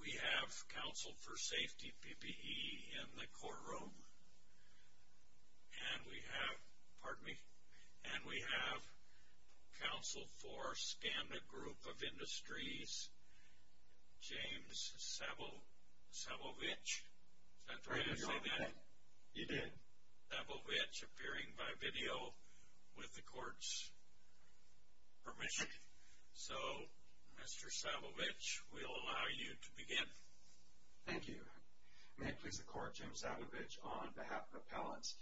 We have counsel for safety PPE in the courtroom and we have, pardon me, and we have counsel for Skanda Group of Industries, James Sabovich, is that the right way to say that? You did. James Sabovich appearing by video with the court's permission. So, Mr. Sabovich, we'll allow you to begin. Thank you. May it please the court, James Sabovich on behalf of the appellants.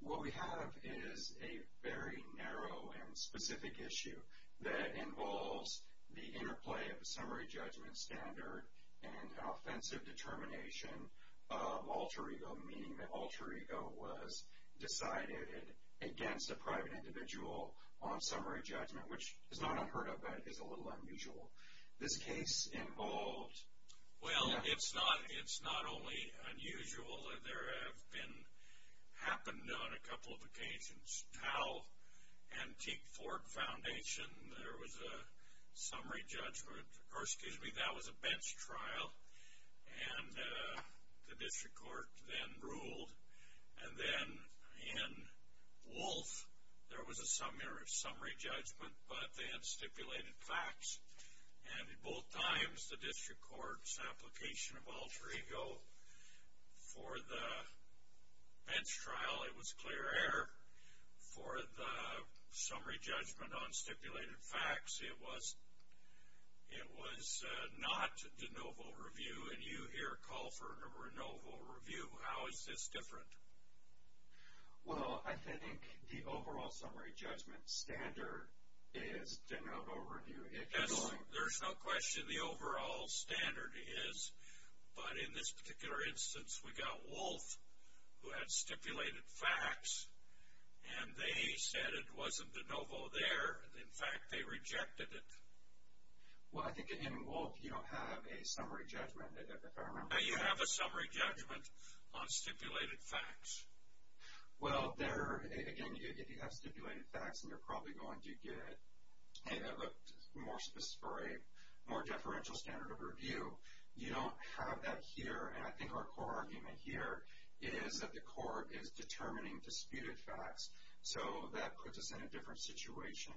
What we have is a very narrow and specific issue that involves the interplay of a summary judgment standard and an offensive determination of alter ego, meaning that alter ego was decided against a private individual on summary judgment, which is not unheard of, but is a little unusual. This case involved... Well, it's not only unusual, there have been, happened on a couple of occasions. Antique Ford Foundation, there was a summary judgment, or excuse me, that was a bench trial, and the district court then ruled, and then in Wolf, there was a summary judgment, but they had stipulated facts. And at both times, the district court's application of alter ego for the bench trial, it was clear error. For the summary judgment on stipulated facts, it was not de novo review, and you here call for a de novo review. How is this different? Well, I think the overall summary judgment standard is de novo review. There's no question the overall standard is, but in this particular instance, we got Wolf, who had stipulated facts, and they said it wasn't de novo there. In fact, they rejected it. Well, I think in Wolf, you don't have a summary judgment. No, you have a summary judgment on stipulated facts. Well, there, again, if you have stipulated facts, and you're probably going to get a more specific, more deferential standard of review, you don't have that here. And I think our core argument here is that the court is determining disputed facts, so that puts us in a different situation.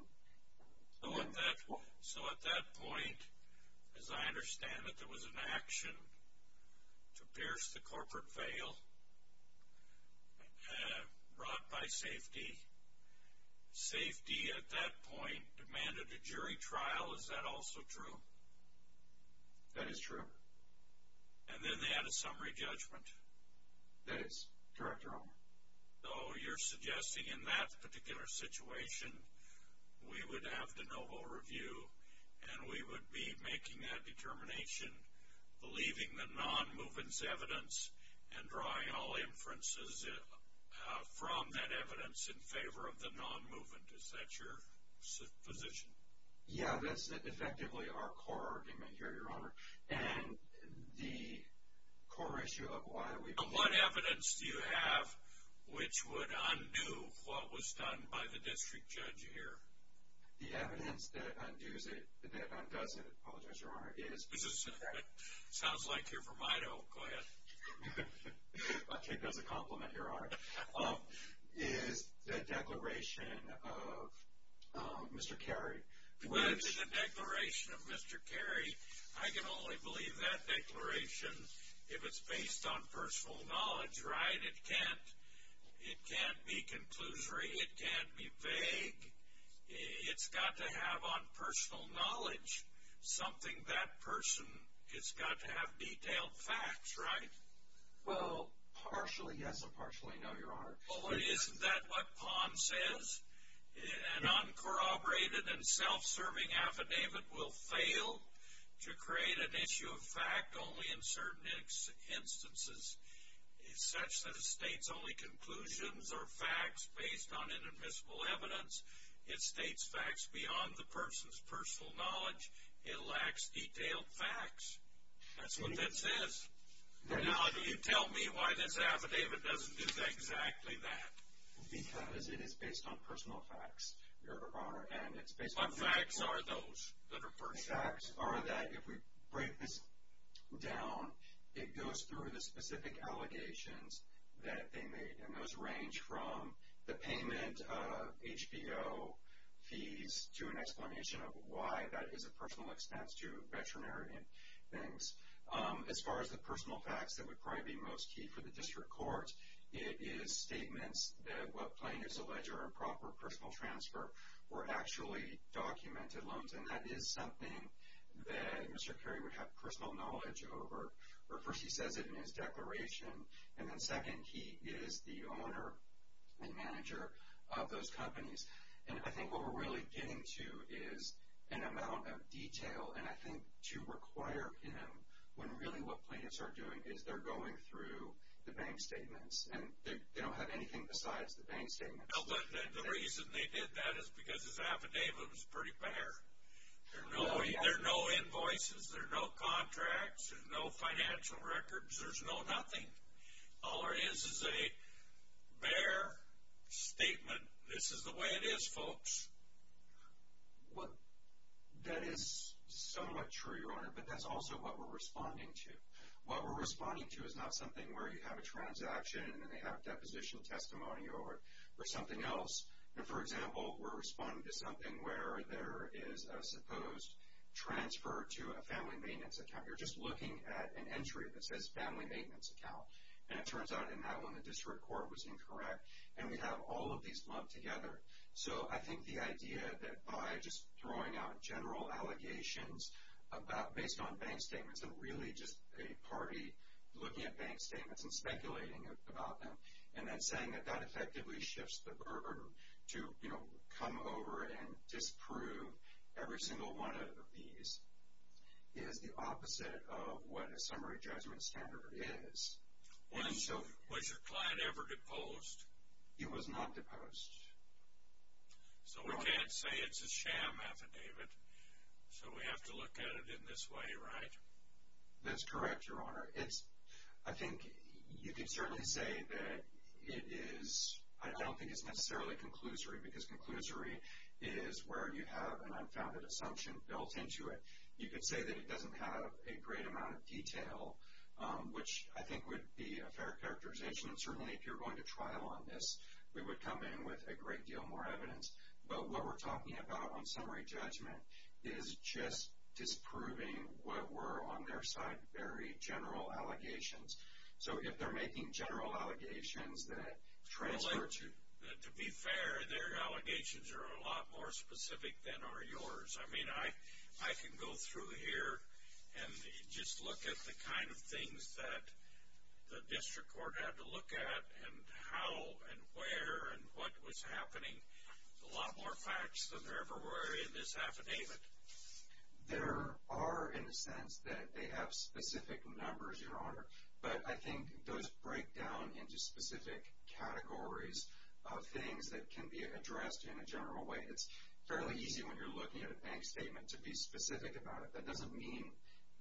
So at that point, as I understand it, there was an action to pierce the corporate veil brought by safety. Safety, at that point, demanded a jury trial. Is that also true? That is true. And then they had a summary judgment. That is correct, Your Honor. So you're suggesting in that particular situation, we would have de novo review, and we would be making that determination, believing the non-movement's evidence, and drawing all inferences from that evidence in favor of the non-movement. Is that your position? Yeah, that's effectively our core argument here, Your Honor. What evidence do you have which would undo what was done by the district judge here? The evidence that undoes it, that undoes it, I apologize, Your Honor, is the declaration of Mr. Carey. Which? The declaration of Mr. Carey. I can only believe that declaration if it's based on personal knowledge, right? It can't be conclusory. It can't be vague. It's got to have on personal knowledge something that person has got to have detailed facts, right? Well, partially yes and partially no, Your Honor. Well, isn't that what Palm says? An uncorroborated and self-serving affidavit will fail to create an issue of fact only in certain instances, such that it states only conclusions or facts based on inadmissible evidence. It states facts beyond the person's personal knowledge. It lacks detailed facts. That's what that says. Now, do you tell me why this affidavit doesn't do exactly that? Because it is based on personal facts, Your Honor, and it's based on facts. What facts are those that are pertinent? Facts are that if we break this down, it goes through the specific allegations that they made, and those range from the payment of HBO fees to an explanation of why that is a personal expense to veterinary things. As far as the personal facts, that would probably be most key for the district court. It is statements that what plain is alleged are improper personal transfer or actually documented loans, and that is something that Mr. Carey would have personal knowledge over. First, he says it in his declaration, and then second, he is the owner and manager of those companies. And I think what we're really getting to is an amount of detail, and I think to require him when really what plaintiffs are doing is they're going through the bank statements, and they don't have anything besides the bank statements. But the reason they did that is because his affidavit was pretty bare. There are no invoices. There are no contracts. There's no financial records. There's no nothing. All there is is a bare statement. This is the way it is, folks. That is somewhat true, Your Honor, but that's also what we're responding to. What we're responding to is not something where you have a transaction and then they have a deposition testimony or something else. For example, we're responding to something where there is a supposed transfer to a family maintenance account. You're just looking at an entry that says family maintenance account, and it turns out in that one the district court was incorrect, and we have all of these lumped together. So I think the idea that by just throwing out general allegations based on bank statements and really just a party looking at bank statements and speculating about them and then saying that that effectively shifts the burden to come over and disprove every single one of these is the opposite of what a summary judgment standard is. Was your client ever deposed? He was not deposed. So we can't say it's a sham affidavit, so we have to look at it in this way, right? That's correct, Your Honor. I think you could certainly say that it is. I don't think it's necessarily conclusory because conclusory is where you have an unfounded assumption built into it. You could say that it doesn't have a great amount of detail, which I think would be a fair characterization. Certainly if you're going to trial on this, we would come in with a great deal more evidence. But what we're talking about on summary judgment is just disproving what were on their side very general allegations. So if they're making general allegations that transfer to you. Well, to be fair, their allegations are a lot more specific than are yours. I mean, I can go through here and just look at the kind of things that the district court had to look at and how and where and what was happening. A lot more facts than there ever were in this affidavit. There are, in a sense, that they have specific numbers, Your Honor, but I think those break down into specific categories of things that can be addressed in a general way. It's fairly easy when you're looking at a bank statement to be specific about it. That doesn't mean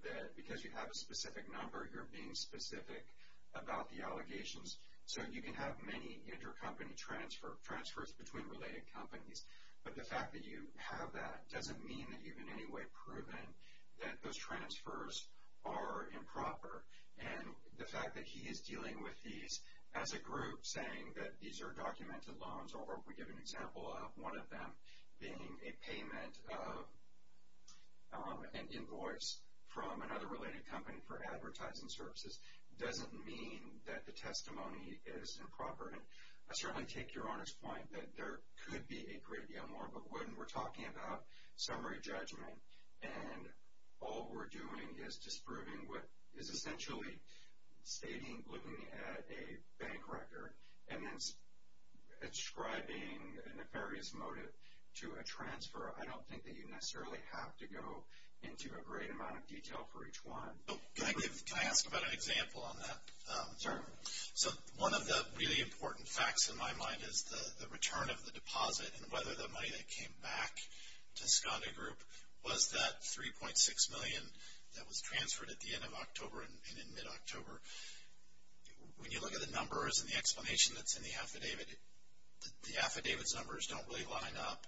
that because you have a specific number, you're being specific about the allegations. So you can have many intercompany transfers between related companies, but the fact that you have that doesn't mean that you've in any way proven that those transfers are improper. And the fact that he is dealing with these as a group saying that these are documented loans or we give an example of one of them being a payment of an invoice from another related company for advertising services doesn't mean that the testimony is improper. And I certainly take Your Honor's point that there could be a great deal more, but when we're talking about summary judgment and all we're doing is just proving what is essentially stating, looking at a bank record and then ascribing a nefarious motive to a transfer, I don't think that you necessarily have to go into a great amount of detail for each one. Can I ask about an example on that? Certainly. So one of the really important facts in my mind is the return of the deposit and whether the money that came back to Skanda Group was that $3.6 million that was transferred at the end of October and in mid-October. When you look at the numbers and the explanation that's in the affidavit, the affidavit's numbers don't really line up.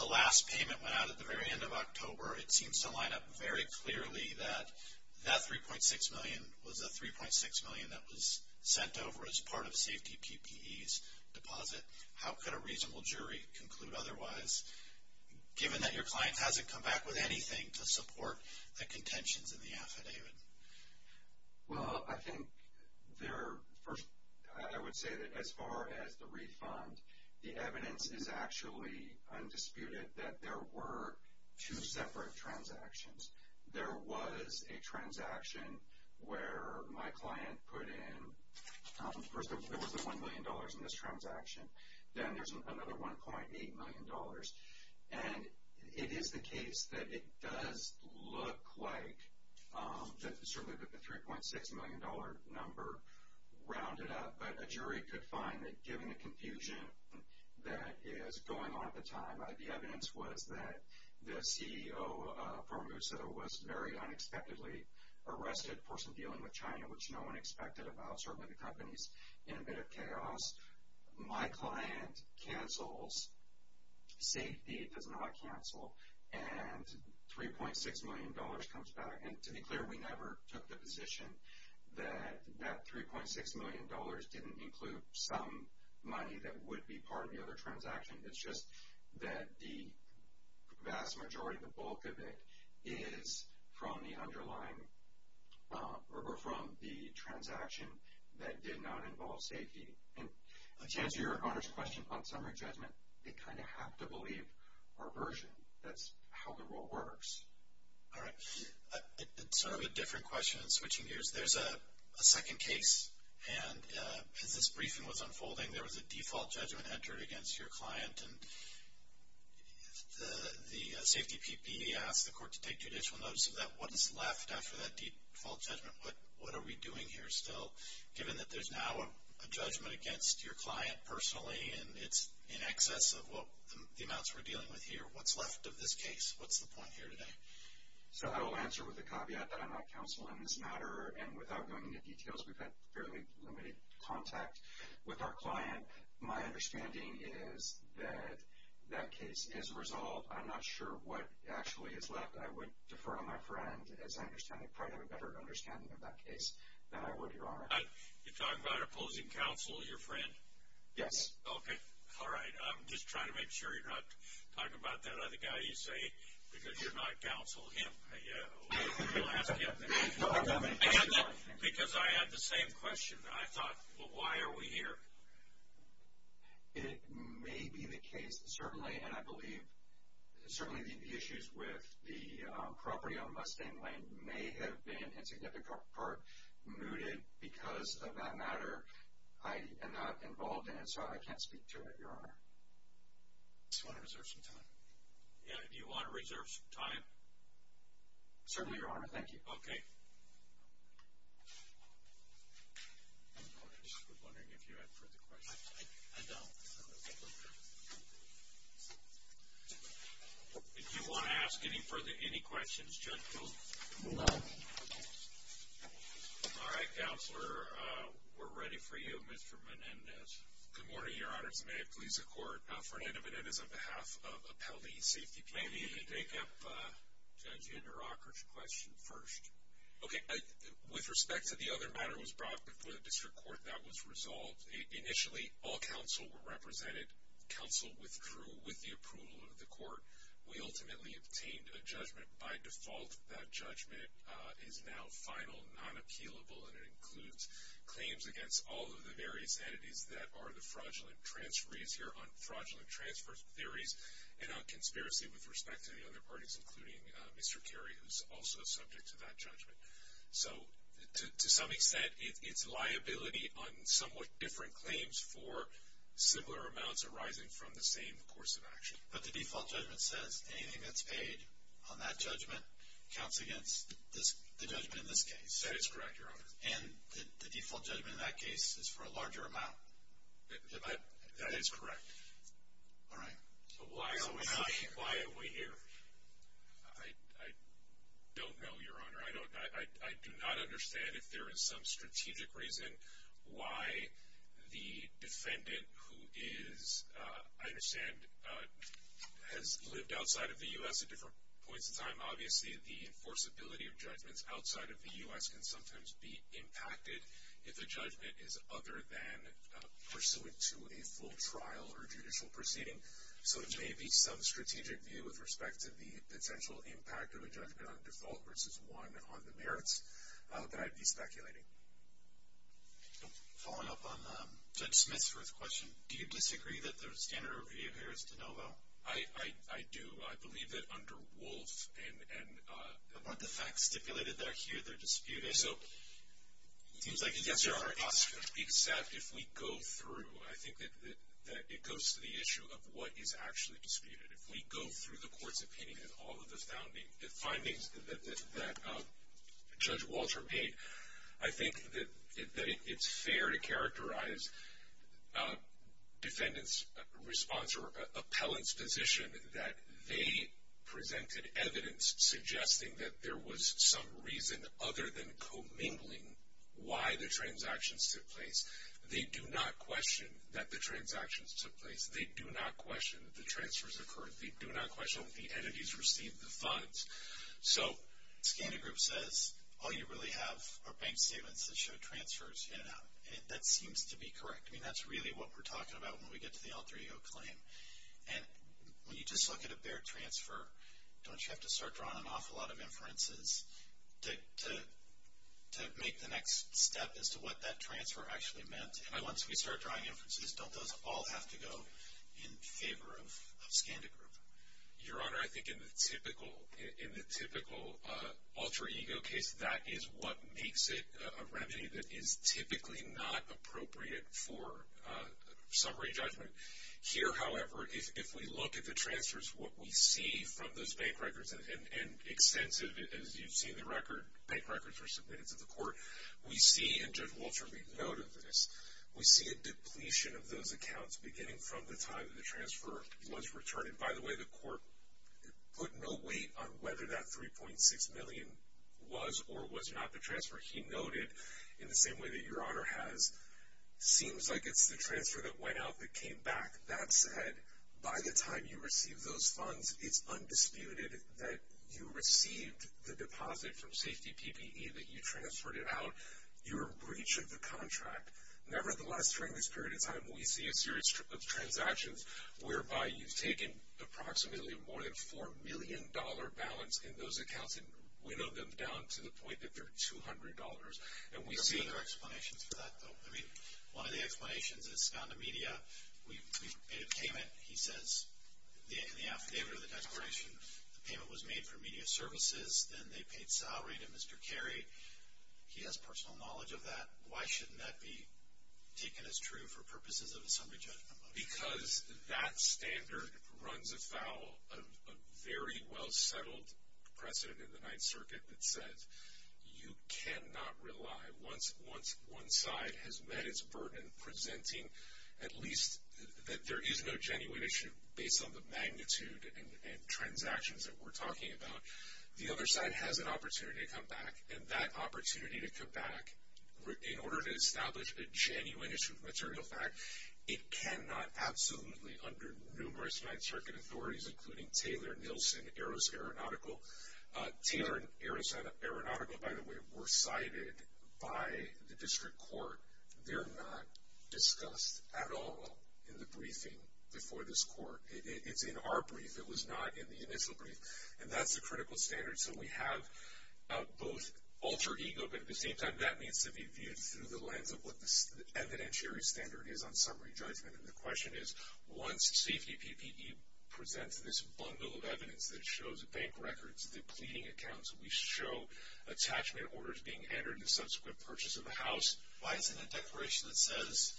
The last payment went out at the very end of October. It seems to line up very clearly that that $3.6 million was a $3.6 million that was sent over as part of safety PPE's deposit. How could a reasonable jury conclude otherwise, given that your client hasn't come back with anything to support the contentions in the affidavit? Well, I think first I would say that as far as the refund, the evidence is actually undisputed that there were two separate transactions. There was a transaction where my client put in, first there was the $1 million in this transaction. Then there's another $1.8 million. And it is the case that it does look like certainly the $3.6 million number rounded up, but a jury could find that given the confusion that is going on at the time, the evidence was that the CEO of Formosa was very unexpectedly arrested for some dealing with China, which no one expected about certainly the companies in a bit of chaos. My client cancels, safety does not cancel, and $3.6 million comes back. And to be clear, we never took the position that that $3.6 million didn't include some money that would be part of the other transaction. It's just that the vast majority, the bulk of it, is from the underlying or from the transaction that did not involve safety. And to answer your Honor's question on summary judgment, they kind of have to believe our version. That's how the rule works. All right. Sort of a different question in switching gears. There's a second case, and because this briefing was unfolding, there was a default judgment entered against your client, and the safety PPE asked the court to take judicial notice of that. What is left after that default judgment? What are we doing here still, given that there's now a judgment against your client personally, and it's in excess of what the amounts we're dealing with here? What's left of this case? What's the point here today? So I will answer with the caveat that I'm not counsel in this matter, and without going into details, we've had fairly limited contact with our client. My understanding is that that case is resolved. I'm not sure what actually is left. I would defer on my friend, as I understand it, probably have a better understanding of that case than I would your Honor. You're talking about opposing counsel, your friend? Yes. Okay. All right. I'm just trying to make sure you're not talking about that other guy you say, because you're not counsel him. I'll ask him. Because I had the same question. I thought, well, why are we here? It may be the case that certainly, and I believe, certainly the issues with the property on Mustang Lane may have been, in significant part, mooted because of that matter. I am not involved in it, so I can't speak to it, your Honor. I just want to reserve some time. Yeah. Do you want to reserve some time? Certainly, your Honor. Thank you. Okay. I'm just wondering if you have further questions. I don't. If you want to ask any further, any questions, gentlemen. No. All right, Counselor. We're ready for you, Mr. Menendez. Good morning, your Honor. As a matter of police of court, Fernando Menendez on behalf of Appellee Safety Committee. May we pick up Judge Inderakar's question first? Okay. With respect to the other matter that was brought before the district court that was resolved, initially all counsel were represented. Counsel withdrew with the approval of the court. We ultimately obtained a judgment by default. That judgment is now final, non-appealable, and it includes claims against all of the various entities that are the fraudulent transferees here on fraudulent transfer theories and on conspiracy with respect to the other parties, including Mr. Carey, who's also subject to that judgment. So to some extent, it's liability on somewhat different claims for similar amounts arising from the same course of action. But the default judgment says anything that's paid on that judgment counts against the judgment in this case. That is correct, your Honor. And the default judgment in that case is for a larger amount? That is correct. All right. So why are we here? I don't know, your Honor. I do not understand if there is some strategic reason why the defendant, who is, I understand, has lived outside of the U.S. at different points in time. Obviously, the enforceability of judgments outside of the U.S. can sometimes be impacted if a judgment is other than pursuant to a full trial or judicial proceeding. So there may be some strategic view with respect to the potential impact of a judgment on default versus one on the merits that I'd be speculating. Following up on Judge Smith's first question, do you disagree that there's standard overview of Harris-DeNovo? I do. I believe that under Wolf and the facts stipulated that are here, they're disputed. So it seems like a yes or a no. Except if we go through, I think that it goes to the issue of what is actually disputed. If we go through the court's opinion and all of the findings that Judge Walter made, I think that it's fair to characterize defendant's response or appellant's position that they presented evidence suggesting that there was some reason other than commingling why the transactions took place. They do not question that the transactions took place. They do not question that the transfers occurred. They do not question that the entities received the funds. So Scandigroup says all you really have are bank statements that show transfers in and out. That seems to be correct. I mean, that's really what we're talking about when we get to the L3O claim. And when you just look at a bare transfer, don't you have to start drawing an awful lot of inferences to make the next step as to what that transfer actually meant? And once we start drawing inferences, don't those all have to go in favor of Scandigroup? Your Honor, I think in the typical alter ego case, that is what makes it a remedy that is typically not appropriate for summary judgment. Here, however, if we look at the transfers, what we see from those bank records, and extensive as you've seen the record, bank records were submitted to the court, we see, and Judge Walter made note of this, we see a depletion of those accounts beginning from the time the transfer was returned. And by the way, the court put no weight on whether that $3.6 million was or was not the transfer. He noted, in the same way that Your Honor has, seems like it's the transfer that went out that came back. That said, by the time you receive those funds, it's undisputed that you received the deposit from Safety PPE that you transferred it out. You were breached of the contract. Nevertheless, during this period of time, we see a series of transactions whereby you've taken approximately more than a $4 million balance in those accounts and winnowed them down to the point that they're $200. And we see- I don't see other explanations for that, though. I mean, one of the explanations is Scandimedia. We made a payment. He says in the affidavit or the declaration, the payment was made for media services. Then they paid salary to Mr. Carey. He has personal knowledge of that. Why shouldn't that be taken as true for purposes of assembly judgment? Because that standard runs afoul of a very well-settled precedent in the Ninth Circuit that says you cannot rely. Once one side has met its burden presenting at least that there is no genuine issue, based on the magnitude and transactions that we're talking about, the other side has an opportunity to come back. And that opportunity to come back, in order to establish a genuine issue of material fact, it cannot absolutely under numerous Ninth Circuit authorities, including Taylor, Nielsen, Arrows Aeronautical. Taylor and Arrows Aeronautical, by the way, were cited by the district court. They're not discussed at all in the briefing before this court. It's in our brief. It was not in the initial brief. And that's a critical standard. So we have both altered ego, but at the same time, that needs to be viewed through the lens of what the evidentiary standard is on summary judgment. And the question is, once safety PPE presents this bundle of evidence that shows bank records, the pleading accounts, we show attachment orders being entered in the subsequent purchase of the house. Why isn't a declaration that says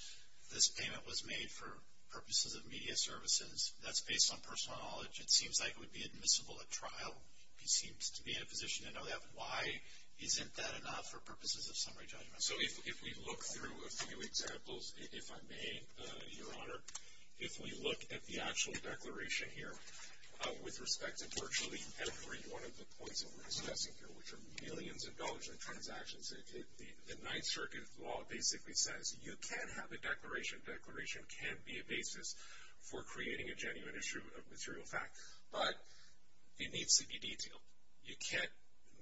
this payment was made for purposes of media services, that's based on personal knowledge, it seems like it would be admissible at trial. He seems to be in a position to know that. Why isn't that enough for purposes of summary judgment? So if we look through a few examples, if I may, Your Honor, if we look at the actual declaration here with respect to virtually every one of the points that we're discussing here, which are millions of dollars in transactions, the Ninth Circuit law basically says you can have a declaration. Declaration can be a basis for creating a genuine issue of material fact. But it needs to be detailed. You can't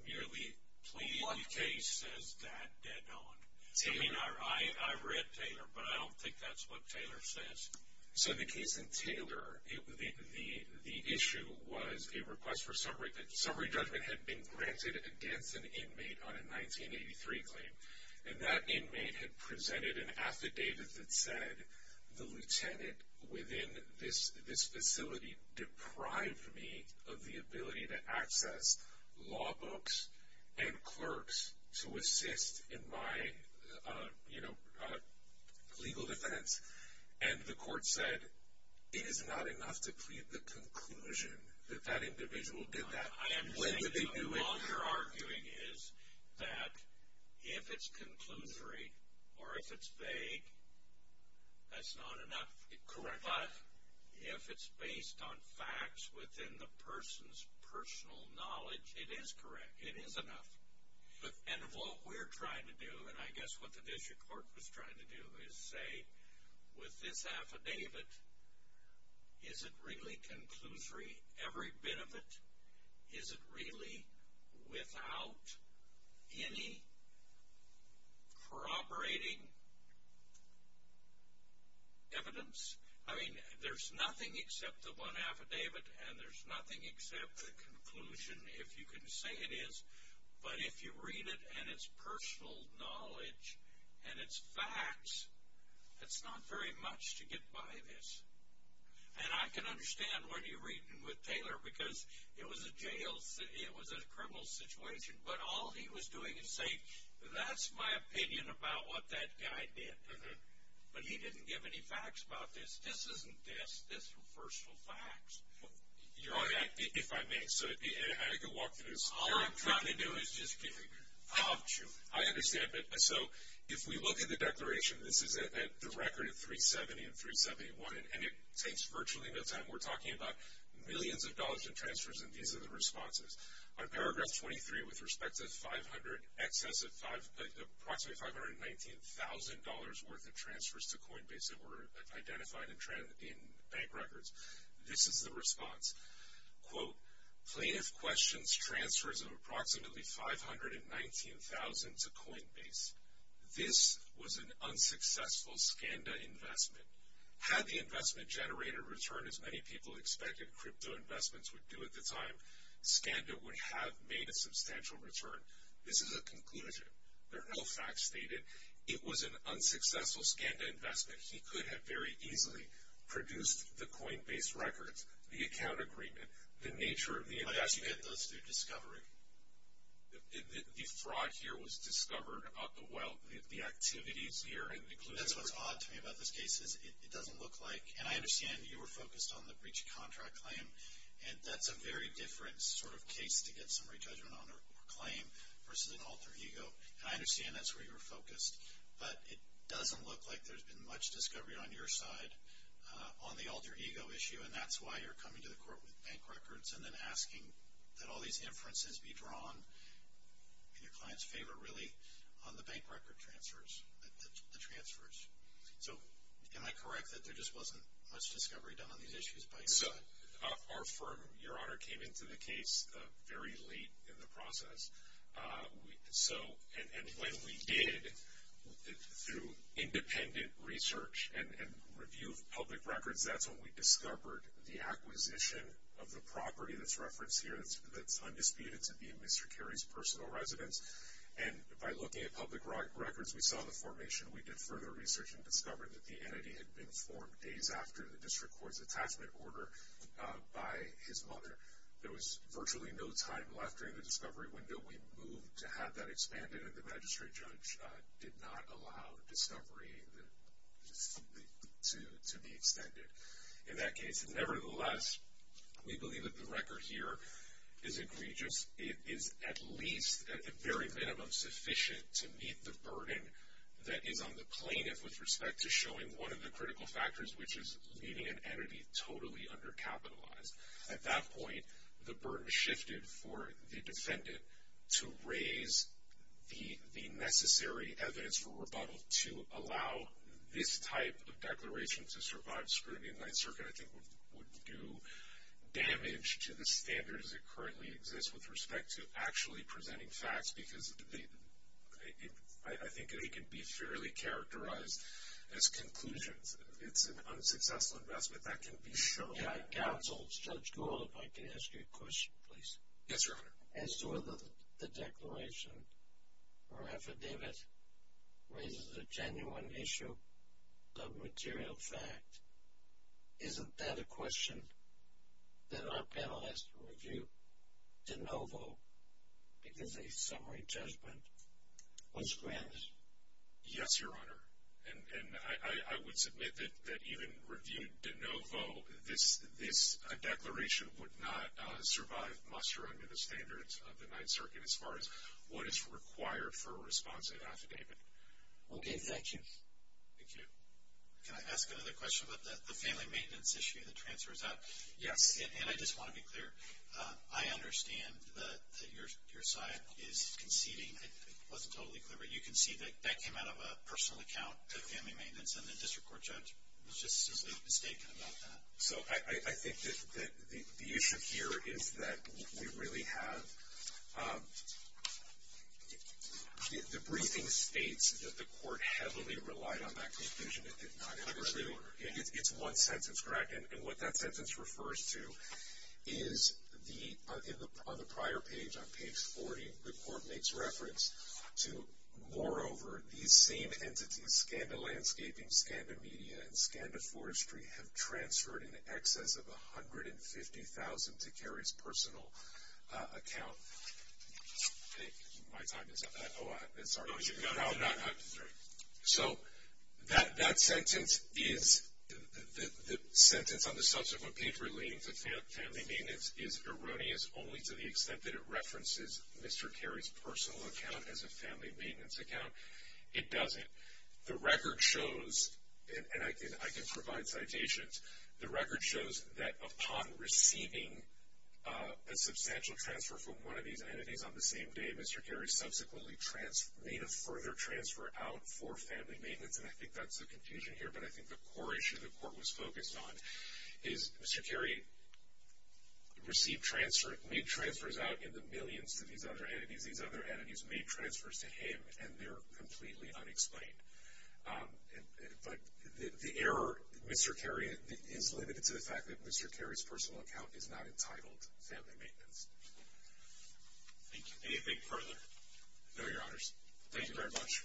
merely plead the case as that dead on. I mean, I read Taylor, but I don't think that's what Taylor says. So the case in Taylor, the issue was a request for summary judgment had been granted against an inmate on a 1983 claim. And that inmate had presented an affidavit that said the lieutenant within this facility deprived me of the ability to access law books and clerks to assist in my, you know, legal defense. And the court said it is not enough to plead the conclusion that that individual did that. All you're arguing is that if it's conclusory or if it's vague, that's not enough. But if it's based on facts within the person's personal knowledge, it is correct. It is enough. And what we're trying to do, and I guess what the district court was trying to do, is say with this affidavit, is it really conclusory, every bit of it? Is it really without any corroborating evidence? I mean, there's nothing except the one affidavit, and there's nothing except the conclusion, if you can say it is. But if you read it and it's personal knowledge and it's facts, it's not very much to get by this. And I can understand what you're reading with Taylor, because it was a criminal situation. But all he was doing is saying, that's my opinion about what that guy did. But he didn't give any facts about this. This isn't this. This is personal facts. If I may, so I could walk through this. All I'm trying to do is just give you. I understand. So if we look at the declaration, this is the record of 370 and 371, and it takes virtually no time. We're talking about millions of dollars in transfers, and these are the responses. On paragraph 23, with respect to 500, excess of approximately $519,000 worth of transfers to Coinbase that were identified in bank records. This is the response. Quote, plaintiff questions transfers of approximately $519,000 to Coinbase. This was an unsuccessful SCANDA investment. Had the investment generated a return as many people expected crypto investments would do at the time, SCANDA would have made a substantial return. This is a conclusion. There are no facts stated. It was an unsuccessful SCANDA investment. He could have very easily produced the Coinbase records, the account agreement, the nature of the investment. But how did you get those through discovery? The fraud here was discovered about the wealth, the activities here. That's what's odd to me about this case is it doesn't look like, and I understand you were focused on the breach of contract claim, and that's a very different sort of case to get summary judgment on a claim versus an alter ego, and I understand that's where you were focused. But it doesn't look like there's been much discovery on your side on the alter ego issue, and that's why you're coming to the court with bank records and then asking that all these inferences be drawn in your client's favor really on the bank record transfers, the transfers. So am I correct that there just wasn't much discovery done on these issues by your side? Our firm, Your Honor, came into the case very late in the process. And when we did, through independent research and review of public records, that's when we discovered the acquisition of the property that's referenced here that's undisputed to be Mr. Cary's personal residence. And by looking at public records, we saw the formation. We did further research and discovered that the entity had been formed days after the district court's attachment order by his mother. There was virtually no time left during the discovery window. We moved to have that expanded, and the magistrate judge did not allow discovery to be extended. In that case, nevertheless, we believe that the record here is egregious. It is at least at the very minimum sufficient to meet the burden that is on the plaintiff with respect to showing one of the critical factors, which is leaving an entity totally undercapitalized. At that point, the burden shifted for the defendant to raise the necessary evidence for rebuttal to allow this type of declaration to survive scrutiny. The Ninth Circuit, I think, would do damage to the standards that currently exist with respect to actually presenting facts, because I think they can be fairly characterized as conclusions. It's an unsuccessful investment. That can be shown. Counsel, Judge Gould, if I could ask you a question, please. Yes, Your Honor. As to whether the declaration or affidavit raises a genuine issue of material fact, isn't that a question that our panel has to review de novo because a summary judgment was granted? Yes, Your Honor. And I would submit that even reviewed de novo, this declaration would not survive muster under the standards of the Ninth Circuit as far as what is required for a responsive affidavit. Okay. Thank you. Thank you. Can I ask another question about the family maintenance issue that transfers out? Yes. And I just want to be clear. I understand that your side is conceding. It wasn't totally clear, but you can see that that came out of a personal account, the family maintenance, and the district court judge was just simply mistaken about that. So I think that the issue here is that we really have the briefing states that the court heavily relied on that conclusion. It did not address the order. It's one sentence, correct? And what that sentence refers to is on the prior page, on page 40, the court makes reference to, moreover, these same entities, Scanda Landscaping, Scanda Media, and Scanda Forestry, have transferred in excess of $150,000 to Carrie's personal account. My time is up. Oh, I'm sorry. No, you've got it. So that sentence is the sentence on the subsequent page relating to family maintenance is erroneous only to the extent that it references Mr. Carrie's personal account as a family maintenance account. It doesn't. The record shows, and I can provide citations, the record shows that upon receiving a substantial transfer from one of these entities on the same day, Mr. Carrie subsequently made a further transfer out for family maintenance, and I think that's a confusion here. But I think the core issue the court was focused on is Mr. Carrie made transfers out in the millions to these other entities. These other entities made transfers to him, and they're completely unexplained. But the error, Mr. Carrie is limited to the fact that Mr. Carrie's personal account is not entitled to family maintenance. Thank you. Anything further? No, Your Honors. Thank you very much.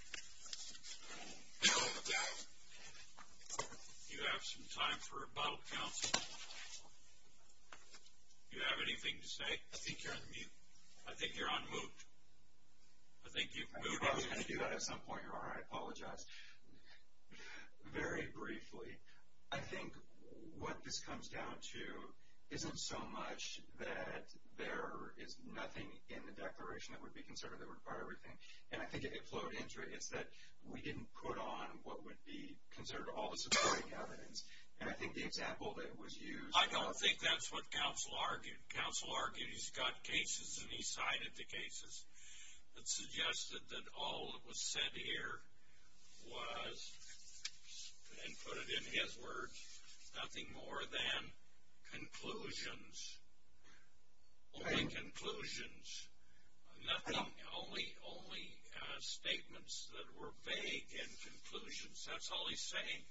Do you have some time for a bottle count? Do you have anything to say? I think you're on mute. I think you're on mute. I think you've moved. I knew I was going to do that at some point, Your Honor. I apologize. Very briefly, I think what this comes down to isn't so much that there is nothing in the declaration that would be considered to require everything, and I think it flowed into it. It's that we didn't put on what would be considered all the supporting evidence, and I think the example that was used. I don't think that's what counsel argued. Counsel argued he's got cases, and he cited the cases that suggested that all that was said here was, and put it in his words, nothing more than conclusions. Only conclusions. Nothing, only statements that were vague and conclusions. That's all he's saying.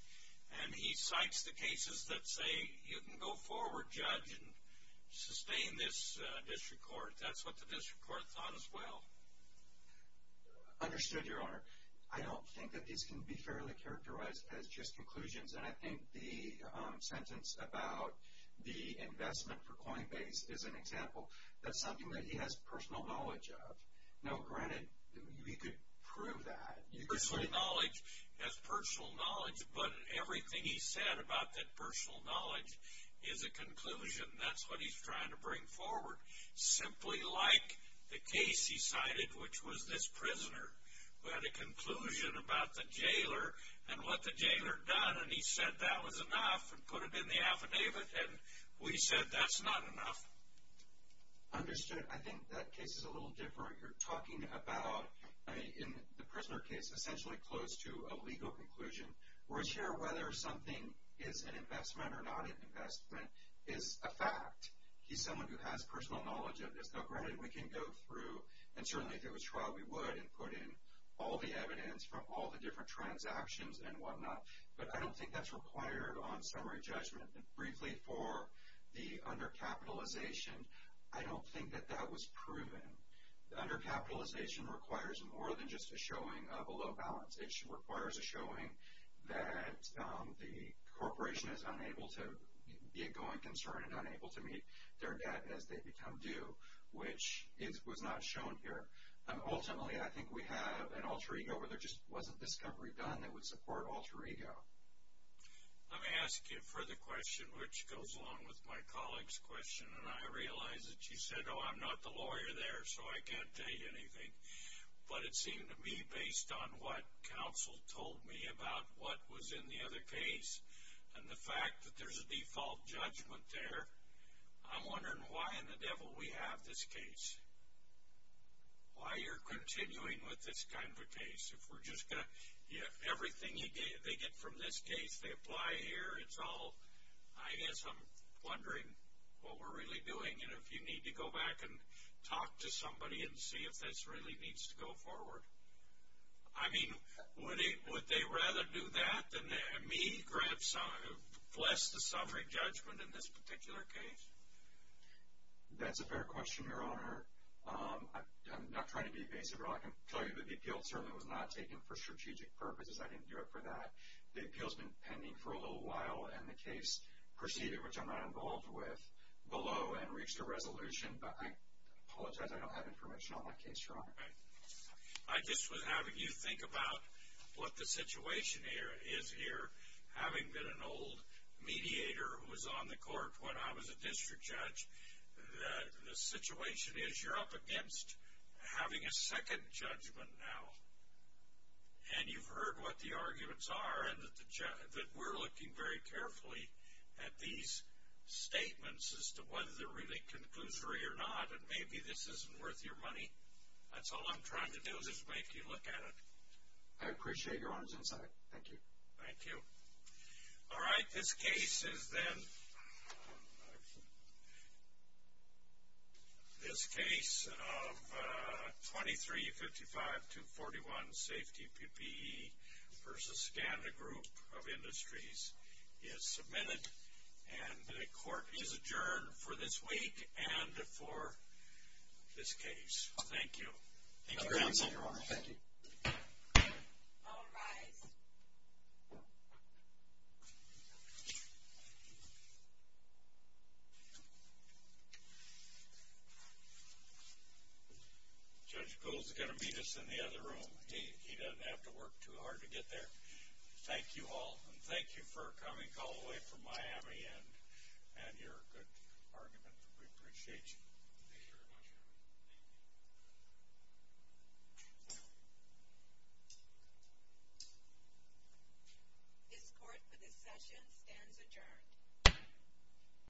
And he cites the cases that say you can go forward, Judge, and sustain this district court. That's what the district court thought as well. Understood, Your Honor. I don't think that these can be fairly characterized as just conclusions, and I think the sentence about the investment for Coinbase is an example. That's something that he has personal knowledge of. Now, granted, he could prove that. He has personal knowledge, but everything he said about that personal knowledge is a conclusion. That's what he's trying to bring forward. Simply like the case he cited, which was this prisoner who had a conclusion about the jailer and what the jailer had done, and he said that was enough and put it in the affidavit, and we said that's not enough. Understood. I think that case is a little different. You're talking about, in the prisoner case, essentially close to a legal conclusion. We're sure whether something is an investment or not an investment is a fact. He's someone who has personal knowledge of this. Now, granted, we can go through, and certainly if it was trial, we would, and put in all the evidence from all the different transactions and whatnot, but I don't think that's required on summary judgment. Briefly, for the undercapitalization, I don't think that that was proven. Undercapitalization requires more than just a showing of a low balance. It requires a showing that the corporation is unable to be a going concern and unable to meet their debt as they become due, which was not shown here. Ultimately, I think we have an alter ego where there just wasn't discovery done that would support alter ego. Let me ask you a further question, which goes along with my colleague's question, and I realize that she said, oh, I'm not the lawyer there, so I can't tell you anything, but it seemed to me, based on what counsel told me about what was in the other case and the fact that there's a default judgment there, I'm wondering why in the devil we have this case. Why you're continuing with this kind of a case? If we're just going to, everything they get from this case, they apply here, it's all, I guess I'm wondering what we're really doing and if you need to go back and talk to somebody and see if this really needs to go forward. I mean, would they rather do that than me bless the summary judgment in this particular case? That's a fair question, Your Honor. I'm not trying to be evasive, but I can tell you that the appeal certainly was not taken for strategic purposes. I didn't do it for that. The appeal's been pending for a little while, and the case proceeded, which I'm not involved with, below and reached a resolution, but I apologize, I don't have information on that case, Your Honor. I just was having you think about what the situation is here. Having been an old mediator who was on the court when I was a district judge, the situation is you're up against having a second judgment now, and you've heard what the arguments are and that we're looking very carefully at these statements as to whether they're really conclusory or not, and maybe this isn't worth your money. That's all I'm trying to do is just make you look at it. I appreciate Your Honor's insight. Thank you. Thank you. All right. This case is then, this case of 2355-241, safety PPE versus standard group of industries is submitted, and the court is adjourned for this week and for this case. Thank you. Thank you, Your Honor. Thank you. All rise. Judge Gould's going to meet us in the other room. He doesn't have to work too hard to get there. Thank you all, and thank you for coming all the way from Miami and your good argument. We appreciate you. Thank you very much, Your Honor. Thank you. This court for this session stands adjourned.